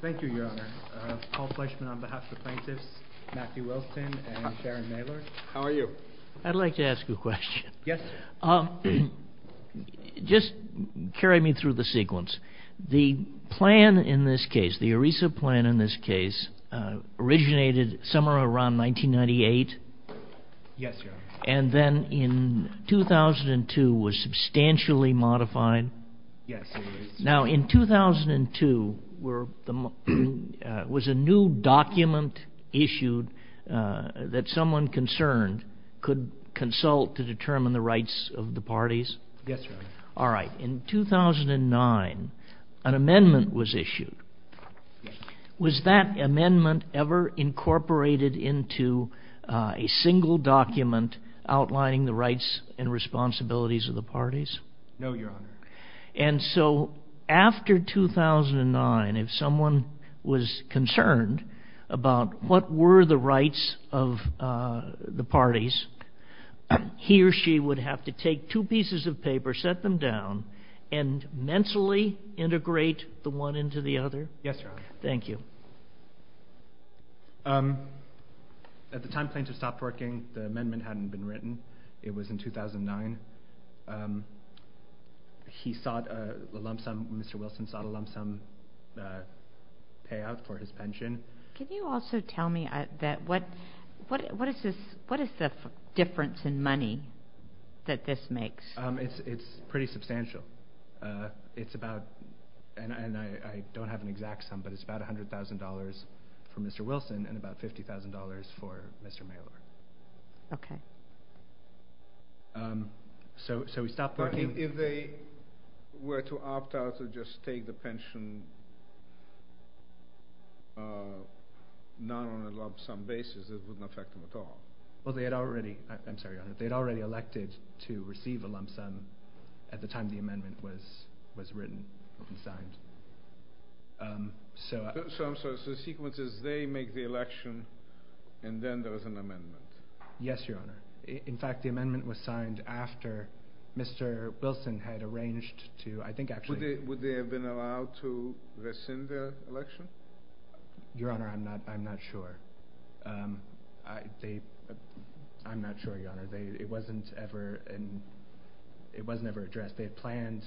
Thank you your honor. Paul Fleishman on behalf of the plaintiffs, Matthew Wilson and Sharon Naylor. How are you? I'd like to ask you a question. Yes. Just carry me through the sequence. The plan in this case, the ERISA plan in this case, originated somewhere around 1998. Yes your honor. And then in 2002 was substantially modified. Yes. Now in 2002, was a new document issued that someone concerned could consult to determine the rights of the parties? Yes your honor. All right. In 2009, an amendment was issued. Yes. Was that amendment ever incorporated into a single document outlining the rights and responsibilities of the parties? No your honor. And so after 2009, if someone was concerned about what were the rights of the parties, he or she would have to take two pieces of paper, set them down, and mentally integrate the one into the other? Yes your honor. Thank you. At the time plaintiffs stopped working, the amendment hadn't been written. It was in 2009. He sought a lump sum, Mr. Wilson sought a lump sum payout for his pension. Can you also tell me, what is the difference in money that this makes? It's pretty substantial. It's about, and I don't have an exact sum, but it's about $100,000 for Mr. Wilson and about $50,000 for Mr. Mailer. Okay. So we stopped working. But if they were to opt out to just take the pension, not on a lump sum basis, it wouldn't affect them at all? Well they had already, I'm sorry your honor, they had already elected to receive a lump sum at the time the amendment was written and signed. So I'm sorry, so the sequence is they make the election and then there was an amendment? Yes your honor. In fact the amendment was signed after Mr. Wilson had arranged to, I think actually... Would they have been allowed to rescind their election? Your honor, I'm not sure. I'm not sure your honor. It wasn't ever addressed. They had planned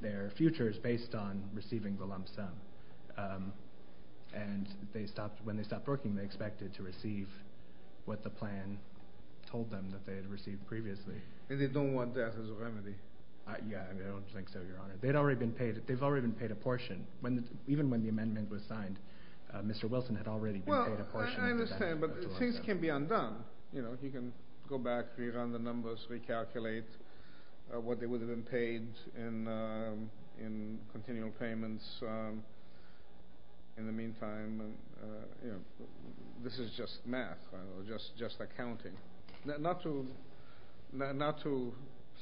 their futures based on receiving the lump sum. And when they stopped working they expected to receive what the plan told them that they had received previously. And they don't want death as a remedy? I don't think so your honor. They've already been paid a portion. Even when the amendment was signed, Mr. Wilson had already been paid a portion. Well I understand, but things can be undone. You can go back, rerun the numbers, recalculate what they would have been paid in continual payments. In the meantime, this is just math. Just accounting. Not to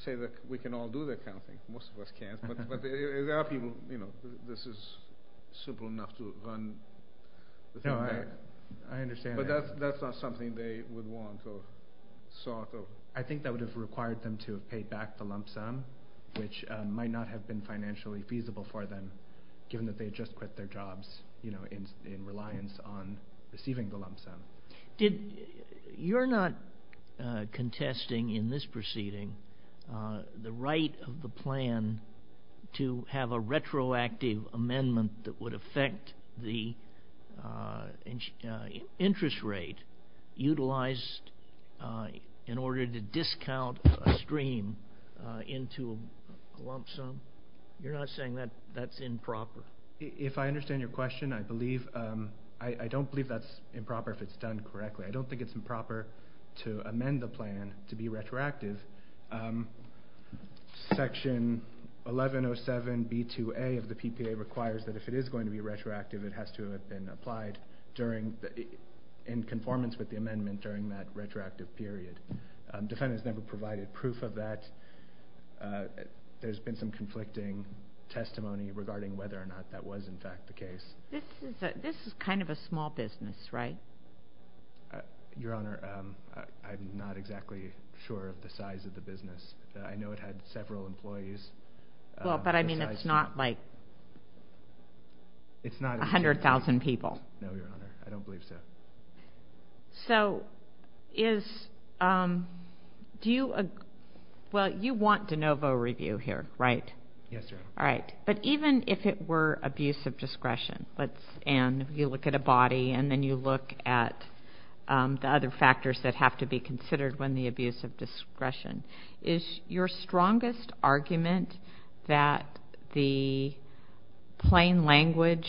say that we can all do the accounting. Most of us can't. But there are people, you know, this is simple enough to run the thing back. No, I understand. But that's not something they would want or sought. I think that would have required them to have paid back the lump sum, which might not have been financially feasible for them, given that they had just quit their jobs, you know, in reliance on receiving the lump sum. You're not contesting in this proceeding the right of the plan to have a retroactive amendment that would affect the interest rate utilized in order to discount a stream into a lump sum? You're not saying that's improper? If I understand your question, I don't believe that's improper if it's done correctly. I don't think it's improper to amend the plan to be retroactive. Section 1107B2A of the PPA requires that if it is going to be retroactive, it has to have been applied in conformance with the amendment during that retroactive period. Defendants never provided proof of that. There's been some conflicting testimony regarding whether or not that was, in fact, the case. This is kind of a small business, right? Your Honor, I'm not exactly sure of the size of the business. I know it had several employees. Well, but I mean it's not like 100,000 people. No, Your Honor. I don't believe so. So is, do you, well, you want de novo review here, right? Yes, Your Honor. All right. But even if it were abuse of discretion, and you look at a body and then you look at the other factors that have to be considered when the abuse of discretion, is your strongest argument that the plain language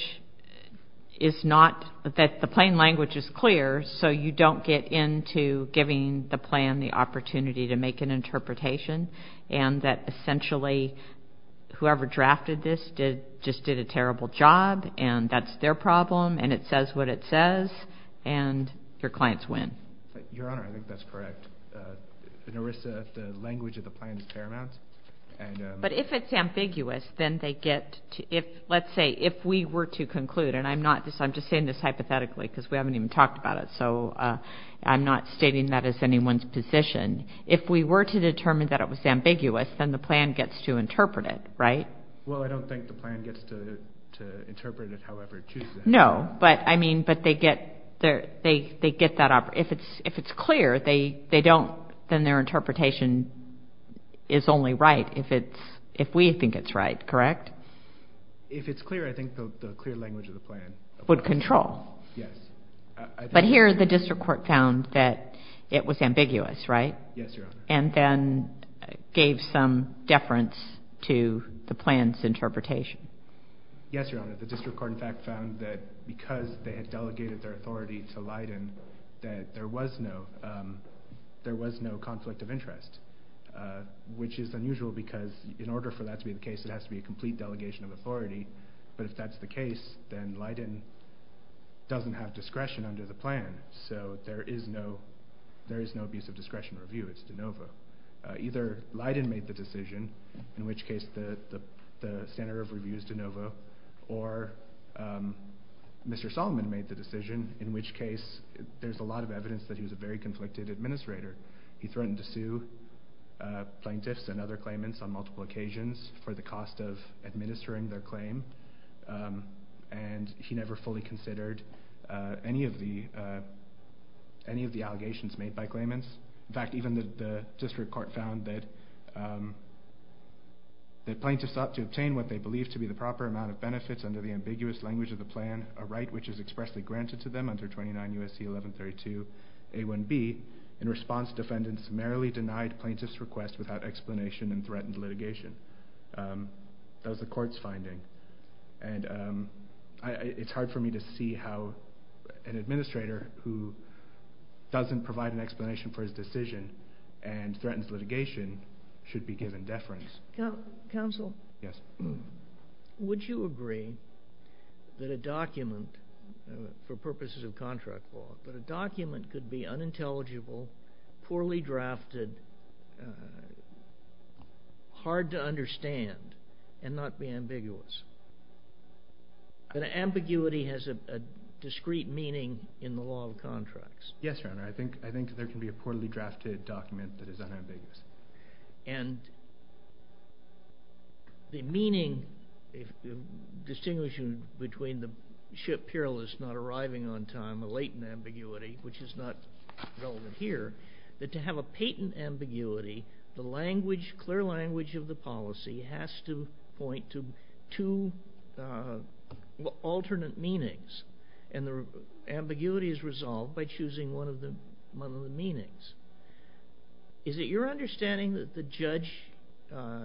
is not, that the plain language is clear so you don't get into giving the plan the opportunity to make an interpretation and that essentially whoever drafted this just did a terrible job, and that's their problem, and it says what it says, and your clients win? Your Honor, I think that's correct. The language of the plan is paramount. But if it's ambiguous, then they get, let's say if we were to conclude, and I'm not, I'm just saying this hypothetically because we haven't even talked about it, so I'm not stating that as anyone's position. If we were to determine that it was ambiguous, then the plan gets to interpret it, right? Well, I don't think the plan gets to interpret it however it chooses. No, but I mean, but they get that, if it's clear, they don't, then their interpretation is only right if we think it's right, correct? If it's clear, I think the clear language of the plan. Would control. Yes. But here the district court found that it was ambiguous, right? Yes, Your Honor. And then gave some deference to the plan's interpretation. Yes, Your Honor. The district court, in fact, found that because they had delegated their authority to Leiden that there was no conflict of interest, which is unusual because in order for that to be the case, it has to be a complete delegation of authority. But if that's the case, then Leiden doesn't have discretion under the plan. So there is no abuse of discretion review. It's de novo. Either Leiden made the decision, in which case the center of review is de novo, or Mr. Solomon made the decision, in which case there's a lot of evidence that he was a very conflicted administrator. He threatened to sue plaintiffs and other claimants on multiple occasions for the cost of administering their claim, and he never fully considered any of the allegations made by claimants. In fact, even the district court found that plaintiffs sought to obtain what they believed to be the proper amount of benefits under the ambiguous language of the plan, a right which is expressly granted to them under 29 U.S.C. 1132a1b. In response, defendants merrily denied plaintiffs' request without explanation and threatened litigation. That was the court's finding. It's hard for me to see how an administrator who doesn't provide an explanation for his decision and threatens litigation should be given deference. Counsel? Yes. Would you agree that a document, for purposes of contract law, but a document could be unintelligible, poorly drafted, hard to understand, and not be ambiguous? Ambiguity has a discrete meaning in the law of contracts. Yes, Your Honor. I think there can be a poorly drafted document that is unambiguous. And the meaning, distinguishing between the ship perilous not arriving on time, a latent ambiguity, which is not relevant here, that to have a patent ambiguity, the clear language of the policy has to point to two alternate meanings, and the ambiguity is resolved by choosing one of the meanings. Is it your understanding that the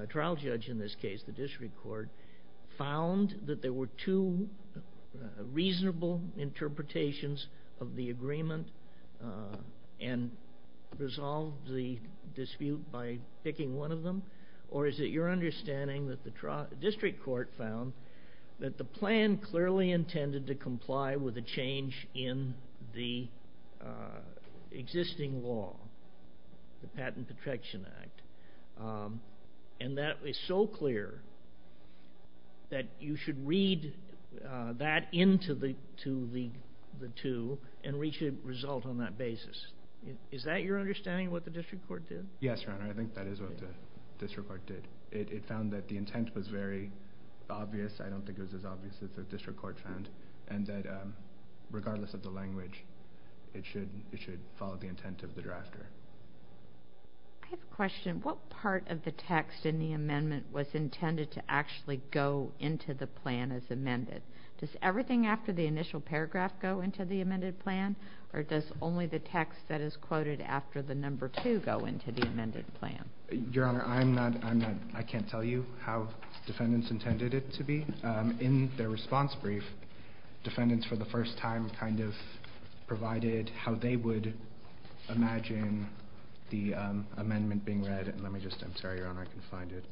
trial judge in this case, the district court, found that there were two reasonable interpretations of the agreement and resolved the dispute by picking one of them? Or is it your understanding that the district court found that the plan clearly intended to comply with a change in the existing law, the Patent Protection Act, and that it's so clear that you should read that into the two and reach a result on that basis? Is that your understanding of what the district court did? Yes, Your Honor. I think that is what the district court did. It found that the intent was very obvious. I don't think it was as obvious as the district court found, and that regardless of the language, it should follow the intent of the drafter. I have a question. What part of the text in the amendment was intended to actually go into the plan as amended? Does everything after the initial paragraph go into the amended plan, or does only the text that is quoted after the number two go into the amended plan? Your Honor, I can't tell you how defendants intended it to be. In their response brief, defendants, for the first time, kind of provided how they would imagine the amendment being read. I'm sorry, Your Honor, I can't find it.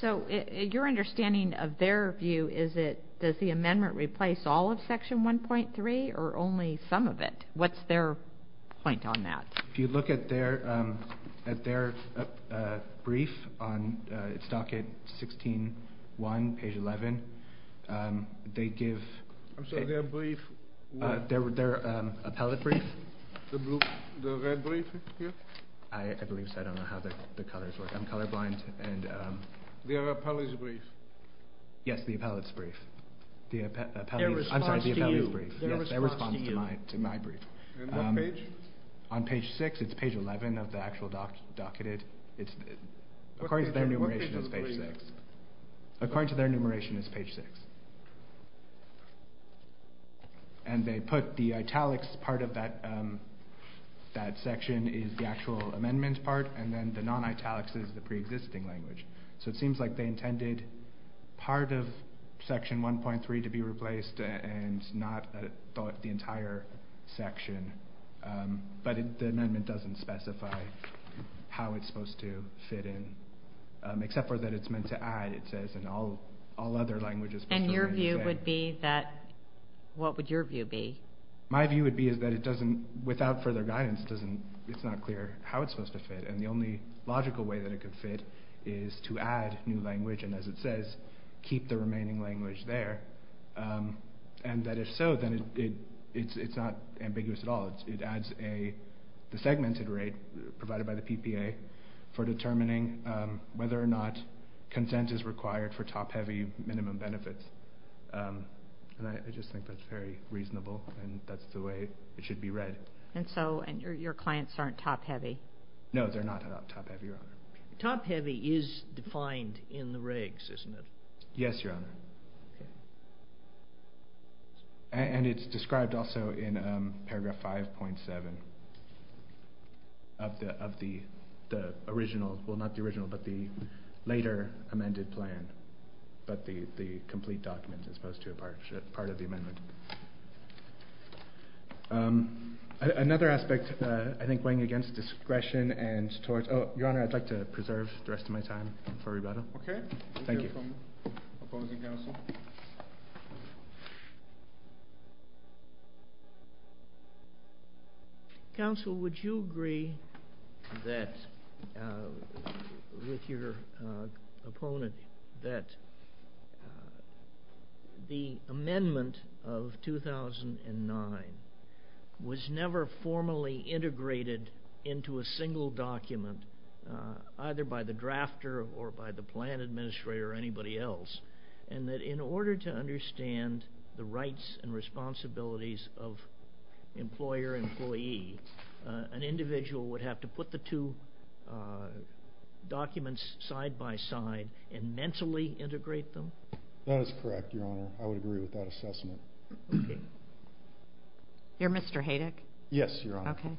So your understanding of their view is that does the amendment replace all of Section 1.3 or only some of it? What's their point on that? If you look at their brief, it's docket 16.1, page 11. I'm sorry, their brief? Their appellate brief. The red brief here? I believe so. I don't know how the colors work. I'm colorblind. Their appellate's brief. Yes, the appellate's brief. Their response to you. Yes, their response to my brief. On what page? On page 6, it's page 11 of the actual docketed. According to their enumeration, it's page 6. According to their enumeration, it's page 6. And they put the italics part of that section is the actual amendment part, and then the non-italics is the pre-existing language. So it seems like they intended part of Section 1.3 to be replaced and not the entire section. But the amendment doesn't specify how it's supposed to fit in, except for that it's meant to add, it says, and all other languages. And your view would be that, what would your view be? My view would be is that it doesn't, without further guidance, it's not clear how it's supposed to fit. And the only logical way that it could fit is to add new language, and as it says, keep the remaining language there. And that if so, then it's not ambiguous at all. It adds the segmented rate provided by the PPA for determining whether or not consent is required for top-heavy minimum benefits. And I just think that's very reasonable, and that's the way it should be read. And so your clients aren't top-heavy? No, they're not top-heavy, Your Honor. Top-heavy is defined in the regs, isn't it? Yes, Your Honor. And it's described also in paragraph 5.7 of the original, well, not the original, but the later amended plan, but the complete document as opposed to a part of the amendment. Another aspect, I think, weighing against discretion and towards, Your Honor, I'd like to preserve the rest of my time for rebuttal. Okay. Thank you. We'll hear from the opposing counsel. Counsel, would you agree with your opponent that the amendment of 2009 was never formally integrated into a single document, either by the drafter or by the plan administrator or anybody else, and that in order to understand the rights and responsibilities of employer-employee, an individual would have to put the two documents side by side and mentally integrate them? That is correct, Your Honor. I would agree with that assessment. You're Mr. Hadick? Yes, Your Honor. Okay.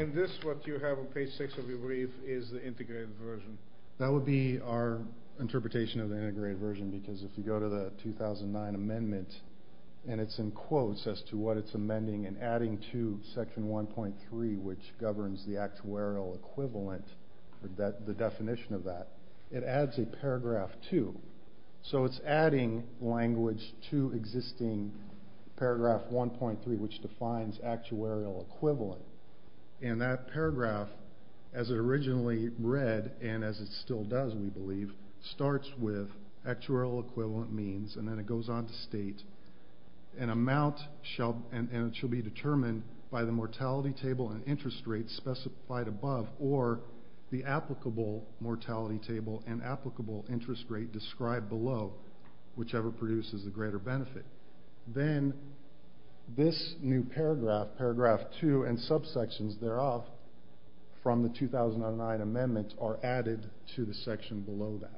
And this, what you have on page 6 of your brief, is the integrated version? That would be our interpretation of the integrated version because if you go to the 2009 amendment, and it's in quotes as to what it's amending and adding to section 1.3, which governs the actuarial equivalent, the definition of that, it adds a paragraph 2. So it's adding language to existing paragraph 1.3, which defines actuarial equivalent. And that paragraph, as it originally read, and as it still does, we believe, starts with actuarial equivalent means, and then it goes on to state, an amount shall be determined by the mortality table and interest rate specified above, or the applicable mortality table and applicable interest rate described below, whichever produces the greater benefit. Then this new paragraph, paragraph 2, and subsections thereof from the 2009 amendment are added to the section below that.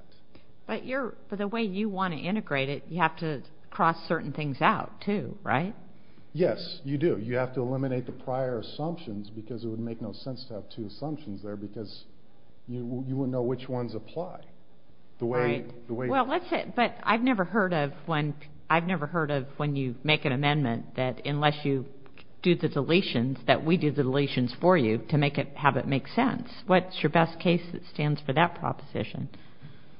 But the way you want to integrate it, you have to cross certain things out too, right? Yes, you do. You have to eliminate the prior assumptions because it would make no sense to have two assumptions there because you wouldn't know which ones apply. Right. But I've never heard of when you make an amendment that unless you do the deletions, that we do the deletions for you to have it make sense. What's your best case that stands for that proposition?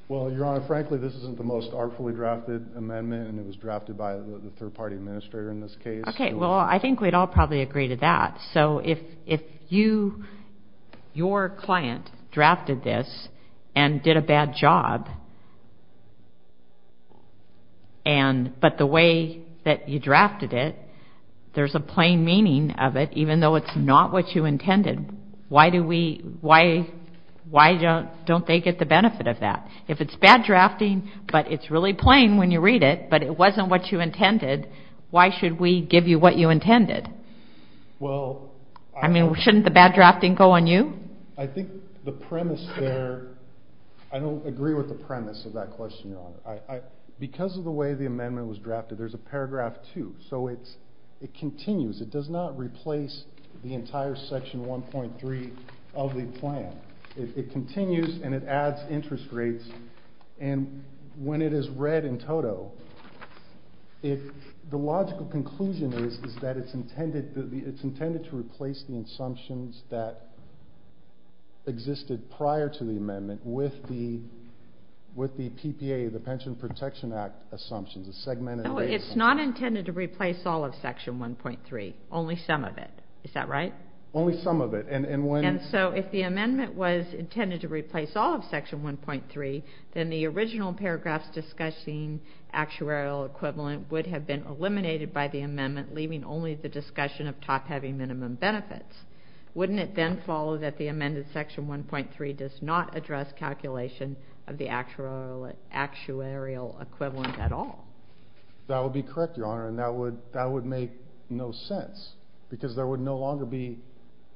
Well, Your Honor, frankly, this isn't the most artfully drafted amendment, and it was drafted by the third-party administrator in this case. Okay, well, I think we'd all probably agree to that. So if your client drafted this and did a bad job, but the way that you drafted it, there's a plain meaning of it, even though it's not what you intended, why don't they get the benefit of that? If it's bad drafting, but it's really plain when you read it, but it wasn't what you intended, why should we give you what you intended? I mean, shouldn't the bad drafting go on you? I think the premise there, I don't agree with the premise of that question, Your Honor. Because of the way the amendment was drafted, there's a paragraph 2. So it continues. It does not replace the entire Section 1.3 of the plan. It continues, and it adds interest rates. And when it is read in toto, the logical conclusion is that it's intended to replace the assumptions that existed prior to the amendment with the PPA, the Pension Protection Act assumptions, the segmented rates. It's not intended to replace all of Section 1.3, only some of it. Is that right? Only some of it. And so if the amendment was intended to replace all of Section 1.3, then the original paragraphs discussing actuarial equivalent would have been eliminated by the amendment, leaving only the discussion of top-heavy minimum benefits. Wouldn't it then follow that the amended Section 1.3 does not address calculation of the actuarial equivalent at all? That would be correct, Your Honor, and that would make no sense, because there would no longer be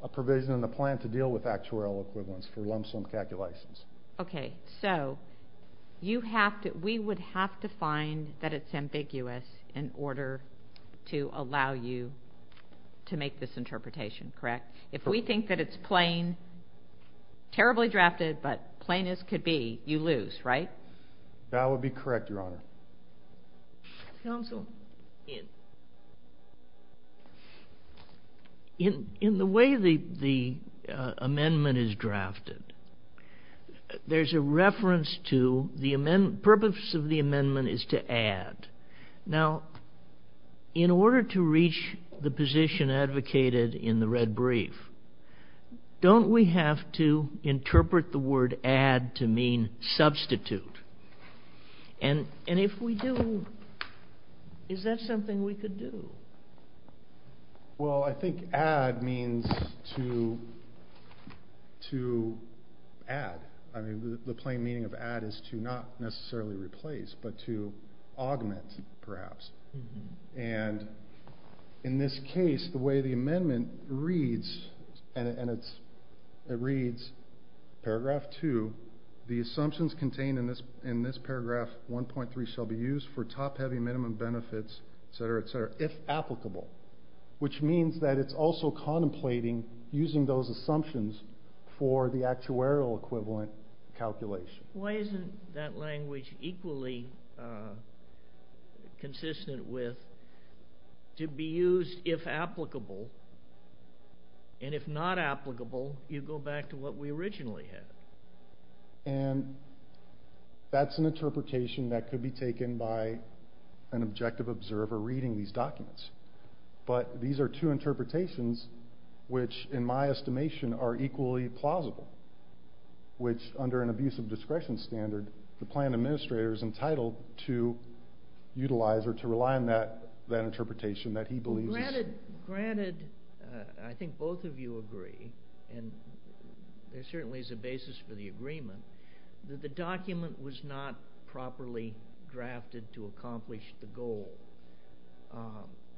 a provision in the plan to deal with actuarial equivalents for lump-sum calculations. Okay. So we would have to find that it's ambiguous in order to allow you to make this interpretation, correct? If we think that it's plain, terribly drafted, but plain as could be, you lose, right? That would be correct, Your Honor. Counsel? In the way the amendment is drafted, there's a reference to the purpose of the amendment is to add. Now, in order to reach the position advocated in the red brief, don't we have to interpret the word add to mean substitute? And if we do, is that something we could do? Well, I think add means to add. I mean, the plain meaning of add is to not necessarily replace, but to augment, perhaps. And in this case, the way the amendment reads, paragraph 2, the assumptions contained in this paragraph 1.3 shall be used for top-heavy minimum benefits, et cetera, et cetera, if applicable, which means that it's also contemplating using those assumptions for the actuarial equivalent calculation. Why isn't that language equally consistent with to be used if applicable? And if not applicable, you go back to what we originally had. And that's an interpretation that could be taken by an objective observer reading these documents. But these are two interpretations which, in my estimation, are equally plausible, which, under an abuse of discretion standard, the plan administrator is entitled to utilize or to rely on that interpretation that he believes is true. Granted, I think both of you agree, and there certainly is a basis for the agreement, that the document was not properly drafted to accomplish the goal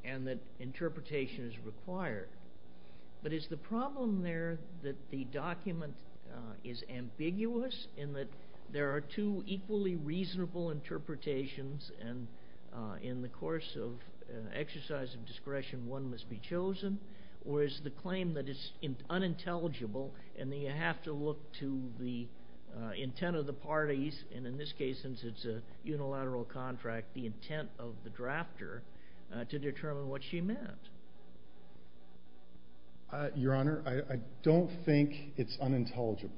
and that interpretation is required. But is the problem there that the document is ambiguous in that there are two equally reasonable interpretations and in the course of exercise of discretion one must be chosen, or is the claim that it's unintelligible and that you have to look to the intent of the parties, and in this case, since it's a unilateral contract, the intent of the drafter to determine what she meant? Your Honor, I don't think it's unintelligible.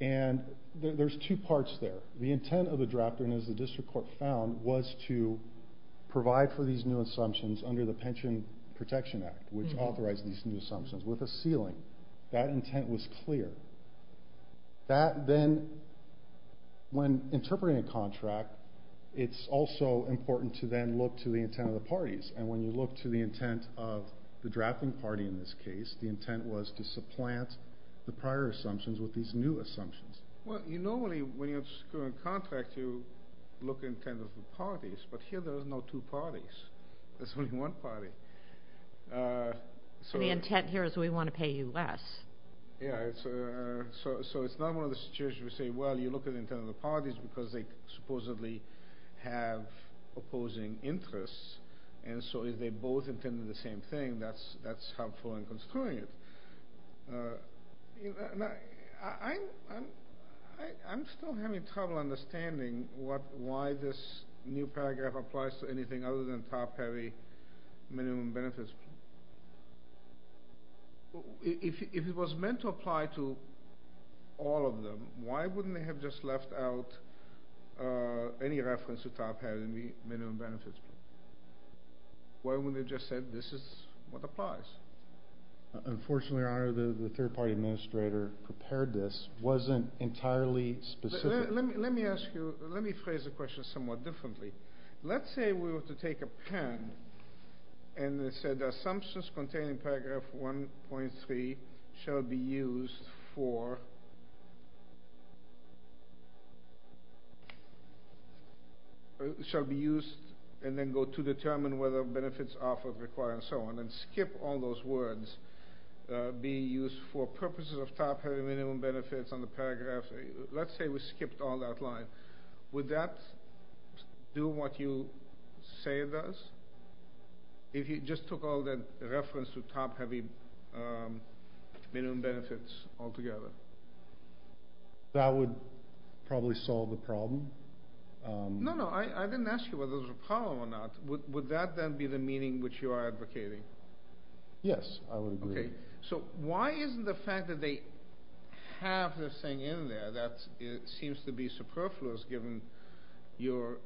And there's two parts there. The intent of the drafter, and as the district court found, was to provide for these new assumptions under the Pension Protection Act, which authorized these new assumptions, with a ceiling. That intent was clear. That then, when interpreting a contract, it's also important to then look to the intent of the parties, and when you look to the intent of the drafting party in this case, the intent was to supplant the prior assumptions with these new assumptions. Well, you normally, when you have a current contract, you look at the intent of the parties, but here there are no two parties. There's only one party. So the intent here is we want to pay you less. Yeah, so it's not one of those situations where you say, well, you look at the intent of the parties because they supposedly have opposing interests, and so if they both intend the same thing, that's helpful in construing it. I'm still having trouble understanding why this new paragraph applies to anything other than top-heavy minimum benefits. If it was meant to apply to all of them, why wouldn't they have just left out any reference to top-heavy minimum benefits? Why wouldn't they have just said this is what applies? Unfortunately, Your Honor, the third-party administrator prepared this, wasn't entirely specific. Let me ask you, let me phrase the question somewhat differently. Let's say we were to take a pen, and it said the assumptions contained in paragraph 1.3 shall be used for, shall be used and then go to determine whether benefits offered require, and so on, and skip all those words, be used for purposes of top-heavy minimum benefits on the paragraph. Let's say we skipped all that line. Would that do what you say it does? If you just took all that reference to top-heavy minimum benefits altogether? That would probably solve the problem. No, no, I didn't ask you whether there was a problem or not. Would that then be the meaning which you are advocating? Yes, I would agree. So why isn't the fact that they have this thing in there that seems to be superfluous, given your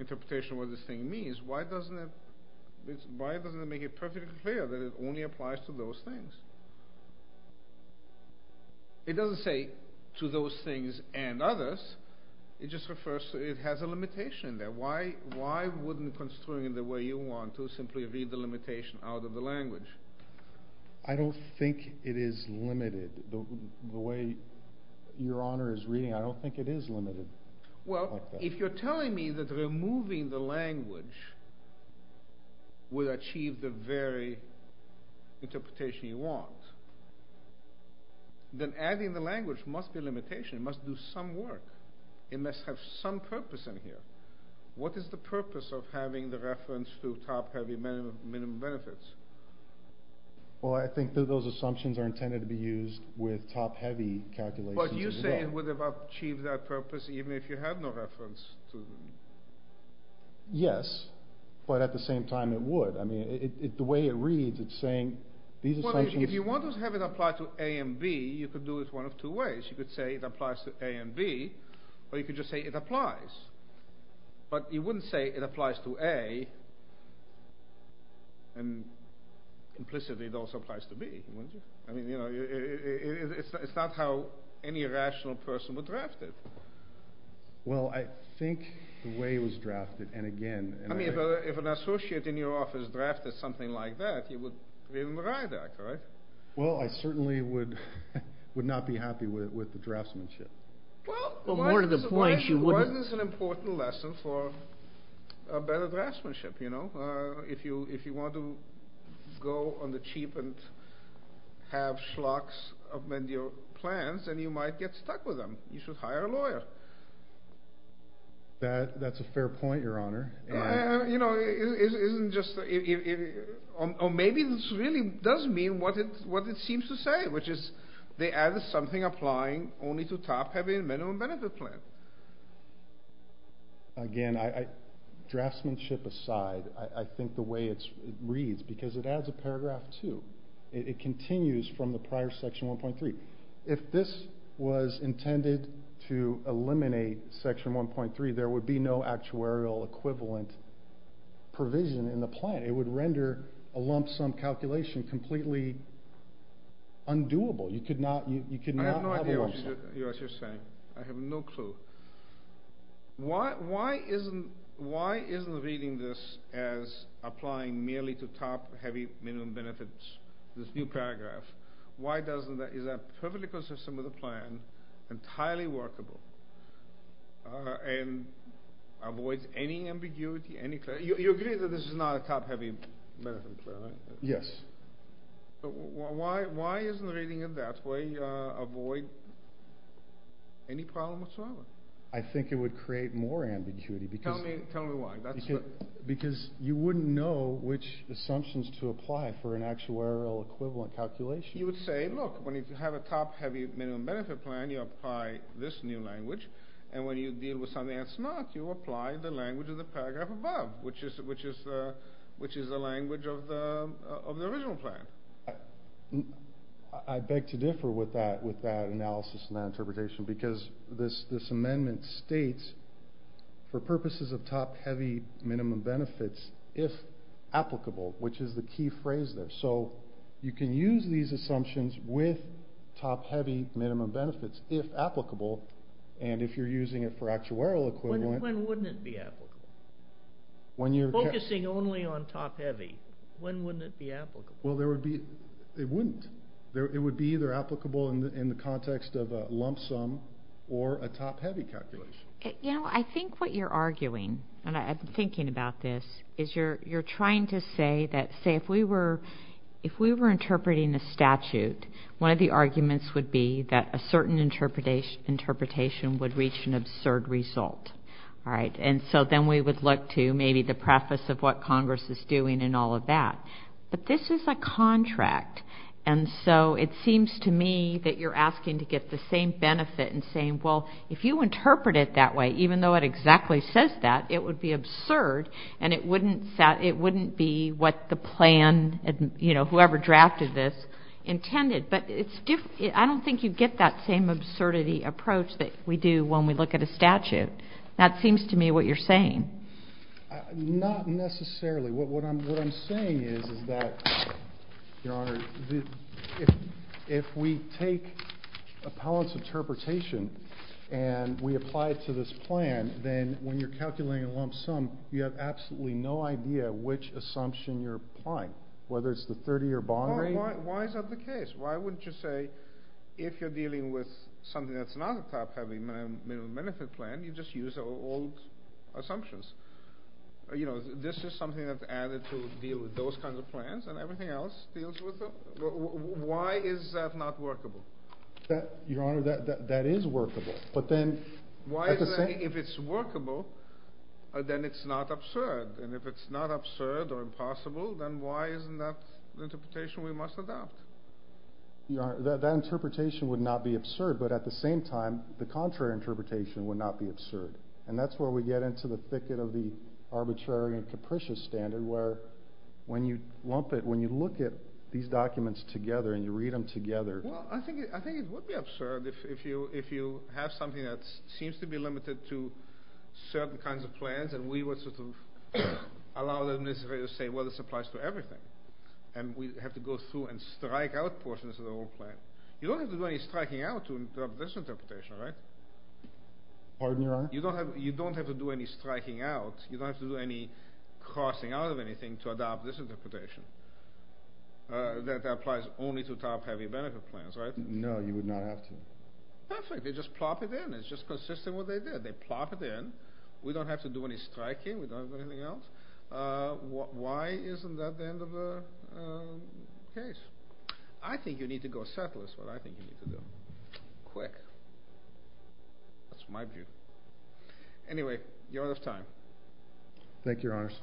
interpretation of what this thing means, why doesn't it make it perfectly clear that it only applies to those things? It doesn't say to those things and others. It just refers to, it has a limitation in there. Why wouldn't constrain it the way you want to simply read the limitation out of the language? I don't think it is limited. The way Your Honor is reading, I don't think it is limited. Well, if you're telling me that removing the language would achieve the very interpretation you want, then adding the language must be a limitation. It must do some work. It must have some purpose in here. What is the purpose of having the reference to top-heavy minimum benefits? Well, I think that those assumptions are intended to be used with top-heavy calculations as well. But you say it would have achieved that purpose even if you had no reference to them. Yes, but at the same time it would. I mean, the way it reads, it's saying these assumptions... Well, if you want to have it apply to A and B, you could do it one of two ways. You could say it applies to A and B, or you could just say it applies. But you wouldn't say it applies to A and implicitly it also applies to B, wouldn't you? I mean, you know, it's not how any rational person would draft it. Well, I think the way it was drafted, and again... I mean, if an associate in your office drafted something like that, it would be in the RIDAC, right? Well, I certainly would not be happy with the draftsmanship. Well, more to the point, you wouldn't... a better draftsmanship, you know? If you want to go on the cheap and have schlocks amend your plans, then you might get stuck with them. You should hire a lawyer. That's a fair point, Your Honor. You know, it isn't just... Or maybe this really does mean what it seems to say, which is they added something applying only to top-heavy and minimum-benefit plans. Again, draftsmanship aside, I think the way it reads, because it adds a paragraph, too. It continues from the prior Section 1.3. If this was intended to eliminate Section 1.3, there would be no actuarial equivalent provision in the plan. It would render a lump sum calculation completely undoable. You could not have a lump sum. I have no idea what you're saying. I have no clue. Why isn't reading this as applying merely to top-heavy minimum benefits, this new paragraph? Why doesn't that... Is that perfectly consistent with the plan, entirely workable, and avoids any ambiguity, any... You agree that this is not a top-heavy minimum benefit plan, right? Yes. Why isn't reading it that way avoid any problem whatsoever? I think it would create more ambiguity because... Tell me why. Because you wouldn't know which assumptions to apply for an actuarial equivalent calculation. You would say, look, when you have a top-heavy minimum benefit plan, you apply this new language, and when you deal with something that's not, you apply the language of the paragraph above, which is the language of the original plan. I beg to differ with that analysis and that interpretation because this amendment states, for purposes of top-heavy minimum benefits, if applicable, which is the key phrase there. So you can use these assumptions with top-heavy minimum benefits, if applicable, and if you're using it for actuarial equivalent... Focusing only on top-heavy, when wouldn't it be applicable? Well, it wouldn't. It would be either applicable in the context of a lump sum or a top-heavy calculation. You know, I think what you're arguing, and I've been thinking about this, is you're trying to say that, say, if we were interpreting a statute, one of the arguments would be that a certain interpretation would reach an absurd result. All right, and so then we would look to maybe the preface of what Congress is doing and all of that. But this is a contract, and so it seems to me that you're asking to get the same benefit in saying, well, if you interpret it that way, even though it exactly says that, it would be absurd, and it wouldn't be what the plan, you know, whoever drafted this, intended. But I don't think you get that same absurdity approach that we do when we look at a statute. That seems to me what you're saying. Not necessarily. What I'm saying is that, Your Honor, if we take appellant's interpretation and we apply it to this plan, then when you're calculating a lump sum, you have absolutely no idea which assumption you're applying, Why is that the case? Why wouldn't you say if you're dealing with something that's not a top-heavy minimum benefit plan, you just use old assumptions? You know, this is something that's added to deal with those kinds of plans and everything else deals with them? Why is that not workable? Your Honor, that is workable. Why is that if it's workable, then it's not absurd? And if it's not absurd or impossible, then why isn't that the interpretation we must adopt? Your Honor, that interpretation would not be absurd, but at the same time, the contrary interpretation would not be absurd. And that's where we get into the thicket of the arbitrary and capricious standard where when you lump it, when you look at these documents together and you read them together... Well, I think it would be absurd if you have something that seems to be limited to certain kinds of plans and we would sort of allow the administrator to say, well, this applies to everything, and we have to go through and strike out portions of the whole plan. You don't have to do any striking out to adopt this interpretation, right? Pardon me, Your Honor? You don't have to do any striking out. You don't have to do any crossing out of anything to adopt this interpretation that applies only to top-heavy benefit plans, right? No, you would not have to. Perfect. They just plop it in. It's just consistent with what they did. They plop it in. We don't have to do any striking. We don't have to do anything else. Why isn't that the end of the case? I think you need to go settle this is what I think you need to do. Quick. That's my view. Anyway, you're out of time. Thank you, Your Honors.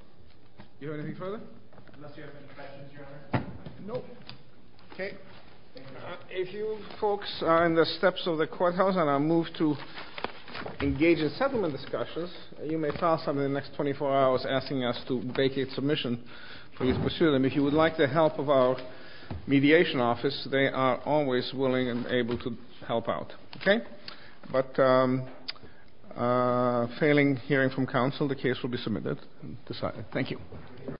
Do you have anything further? Unless you have any questions, Your Honor. No. Okay. A few folks are in the steps of the courthouse and are moved to engage in settlement discussions. You may file something in the next 24 hours asking us to vacate submission for you to pursue them. If you would like the help of our mediation office, they are always willing and able to help out. Okay? But failing hearing from counsel, the case will be submitted and decided. Thank you.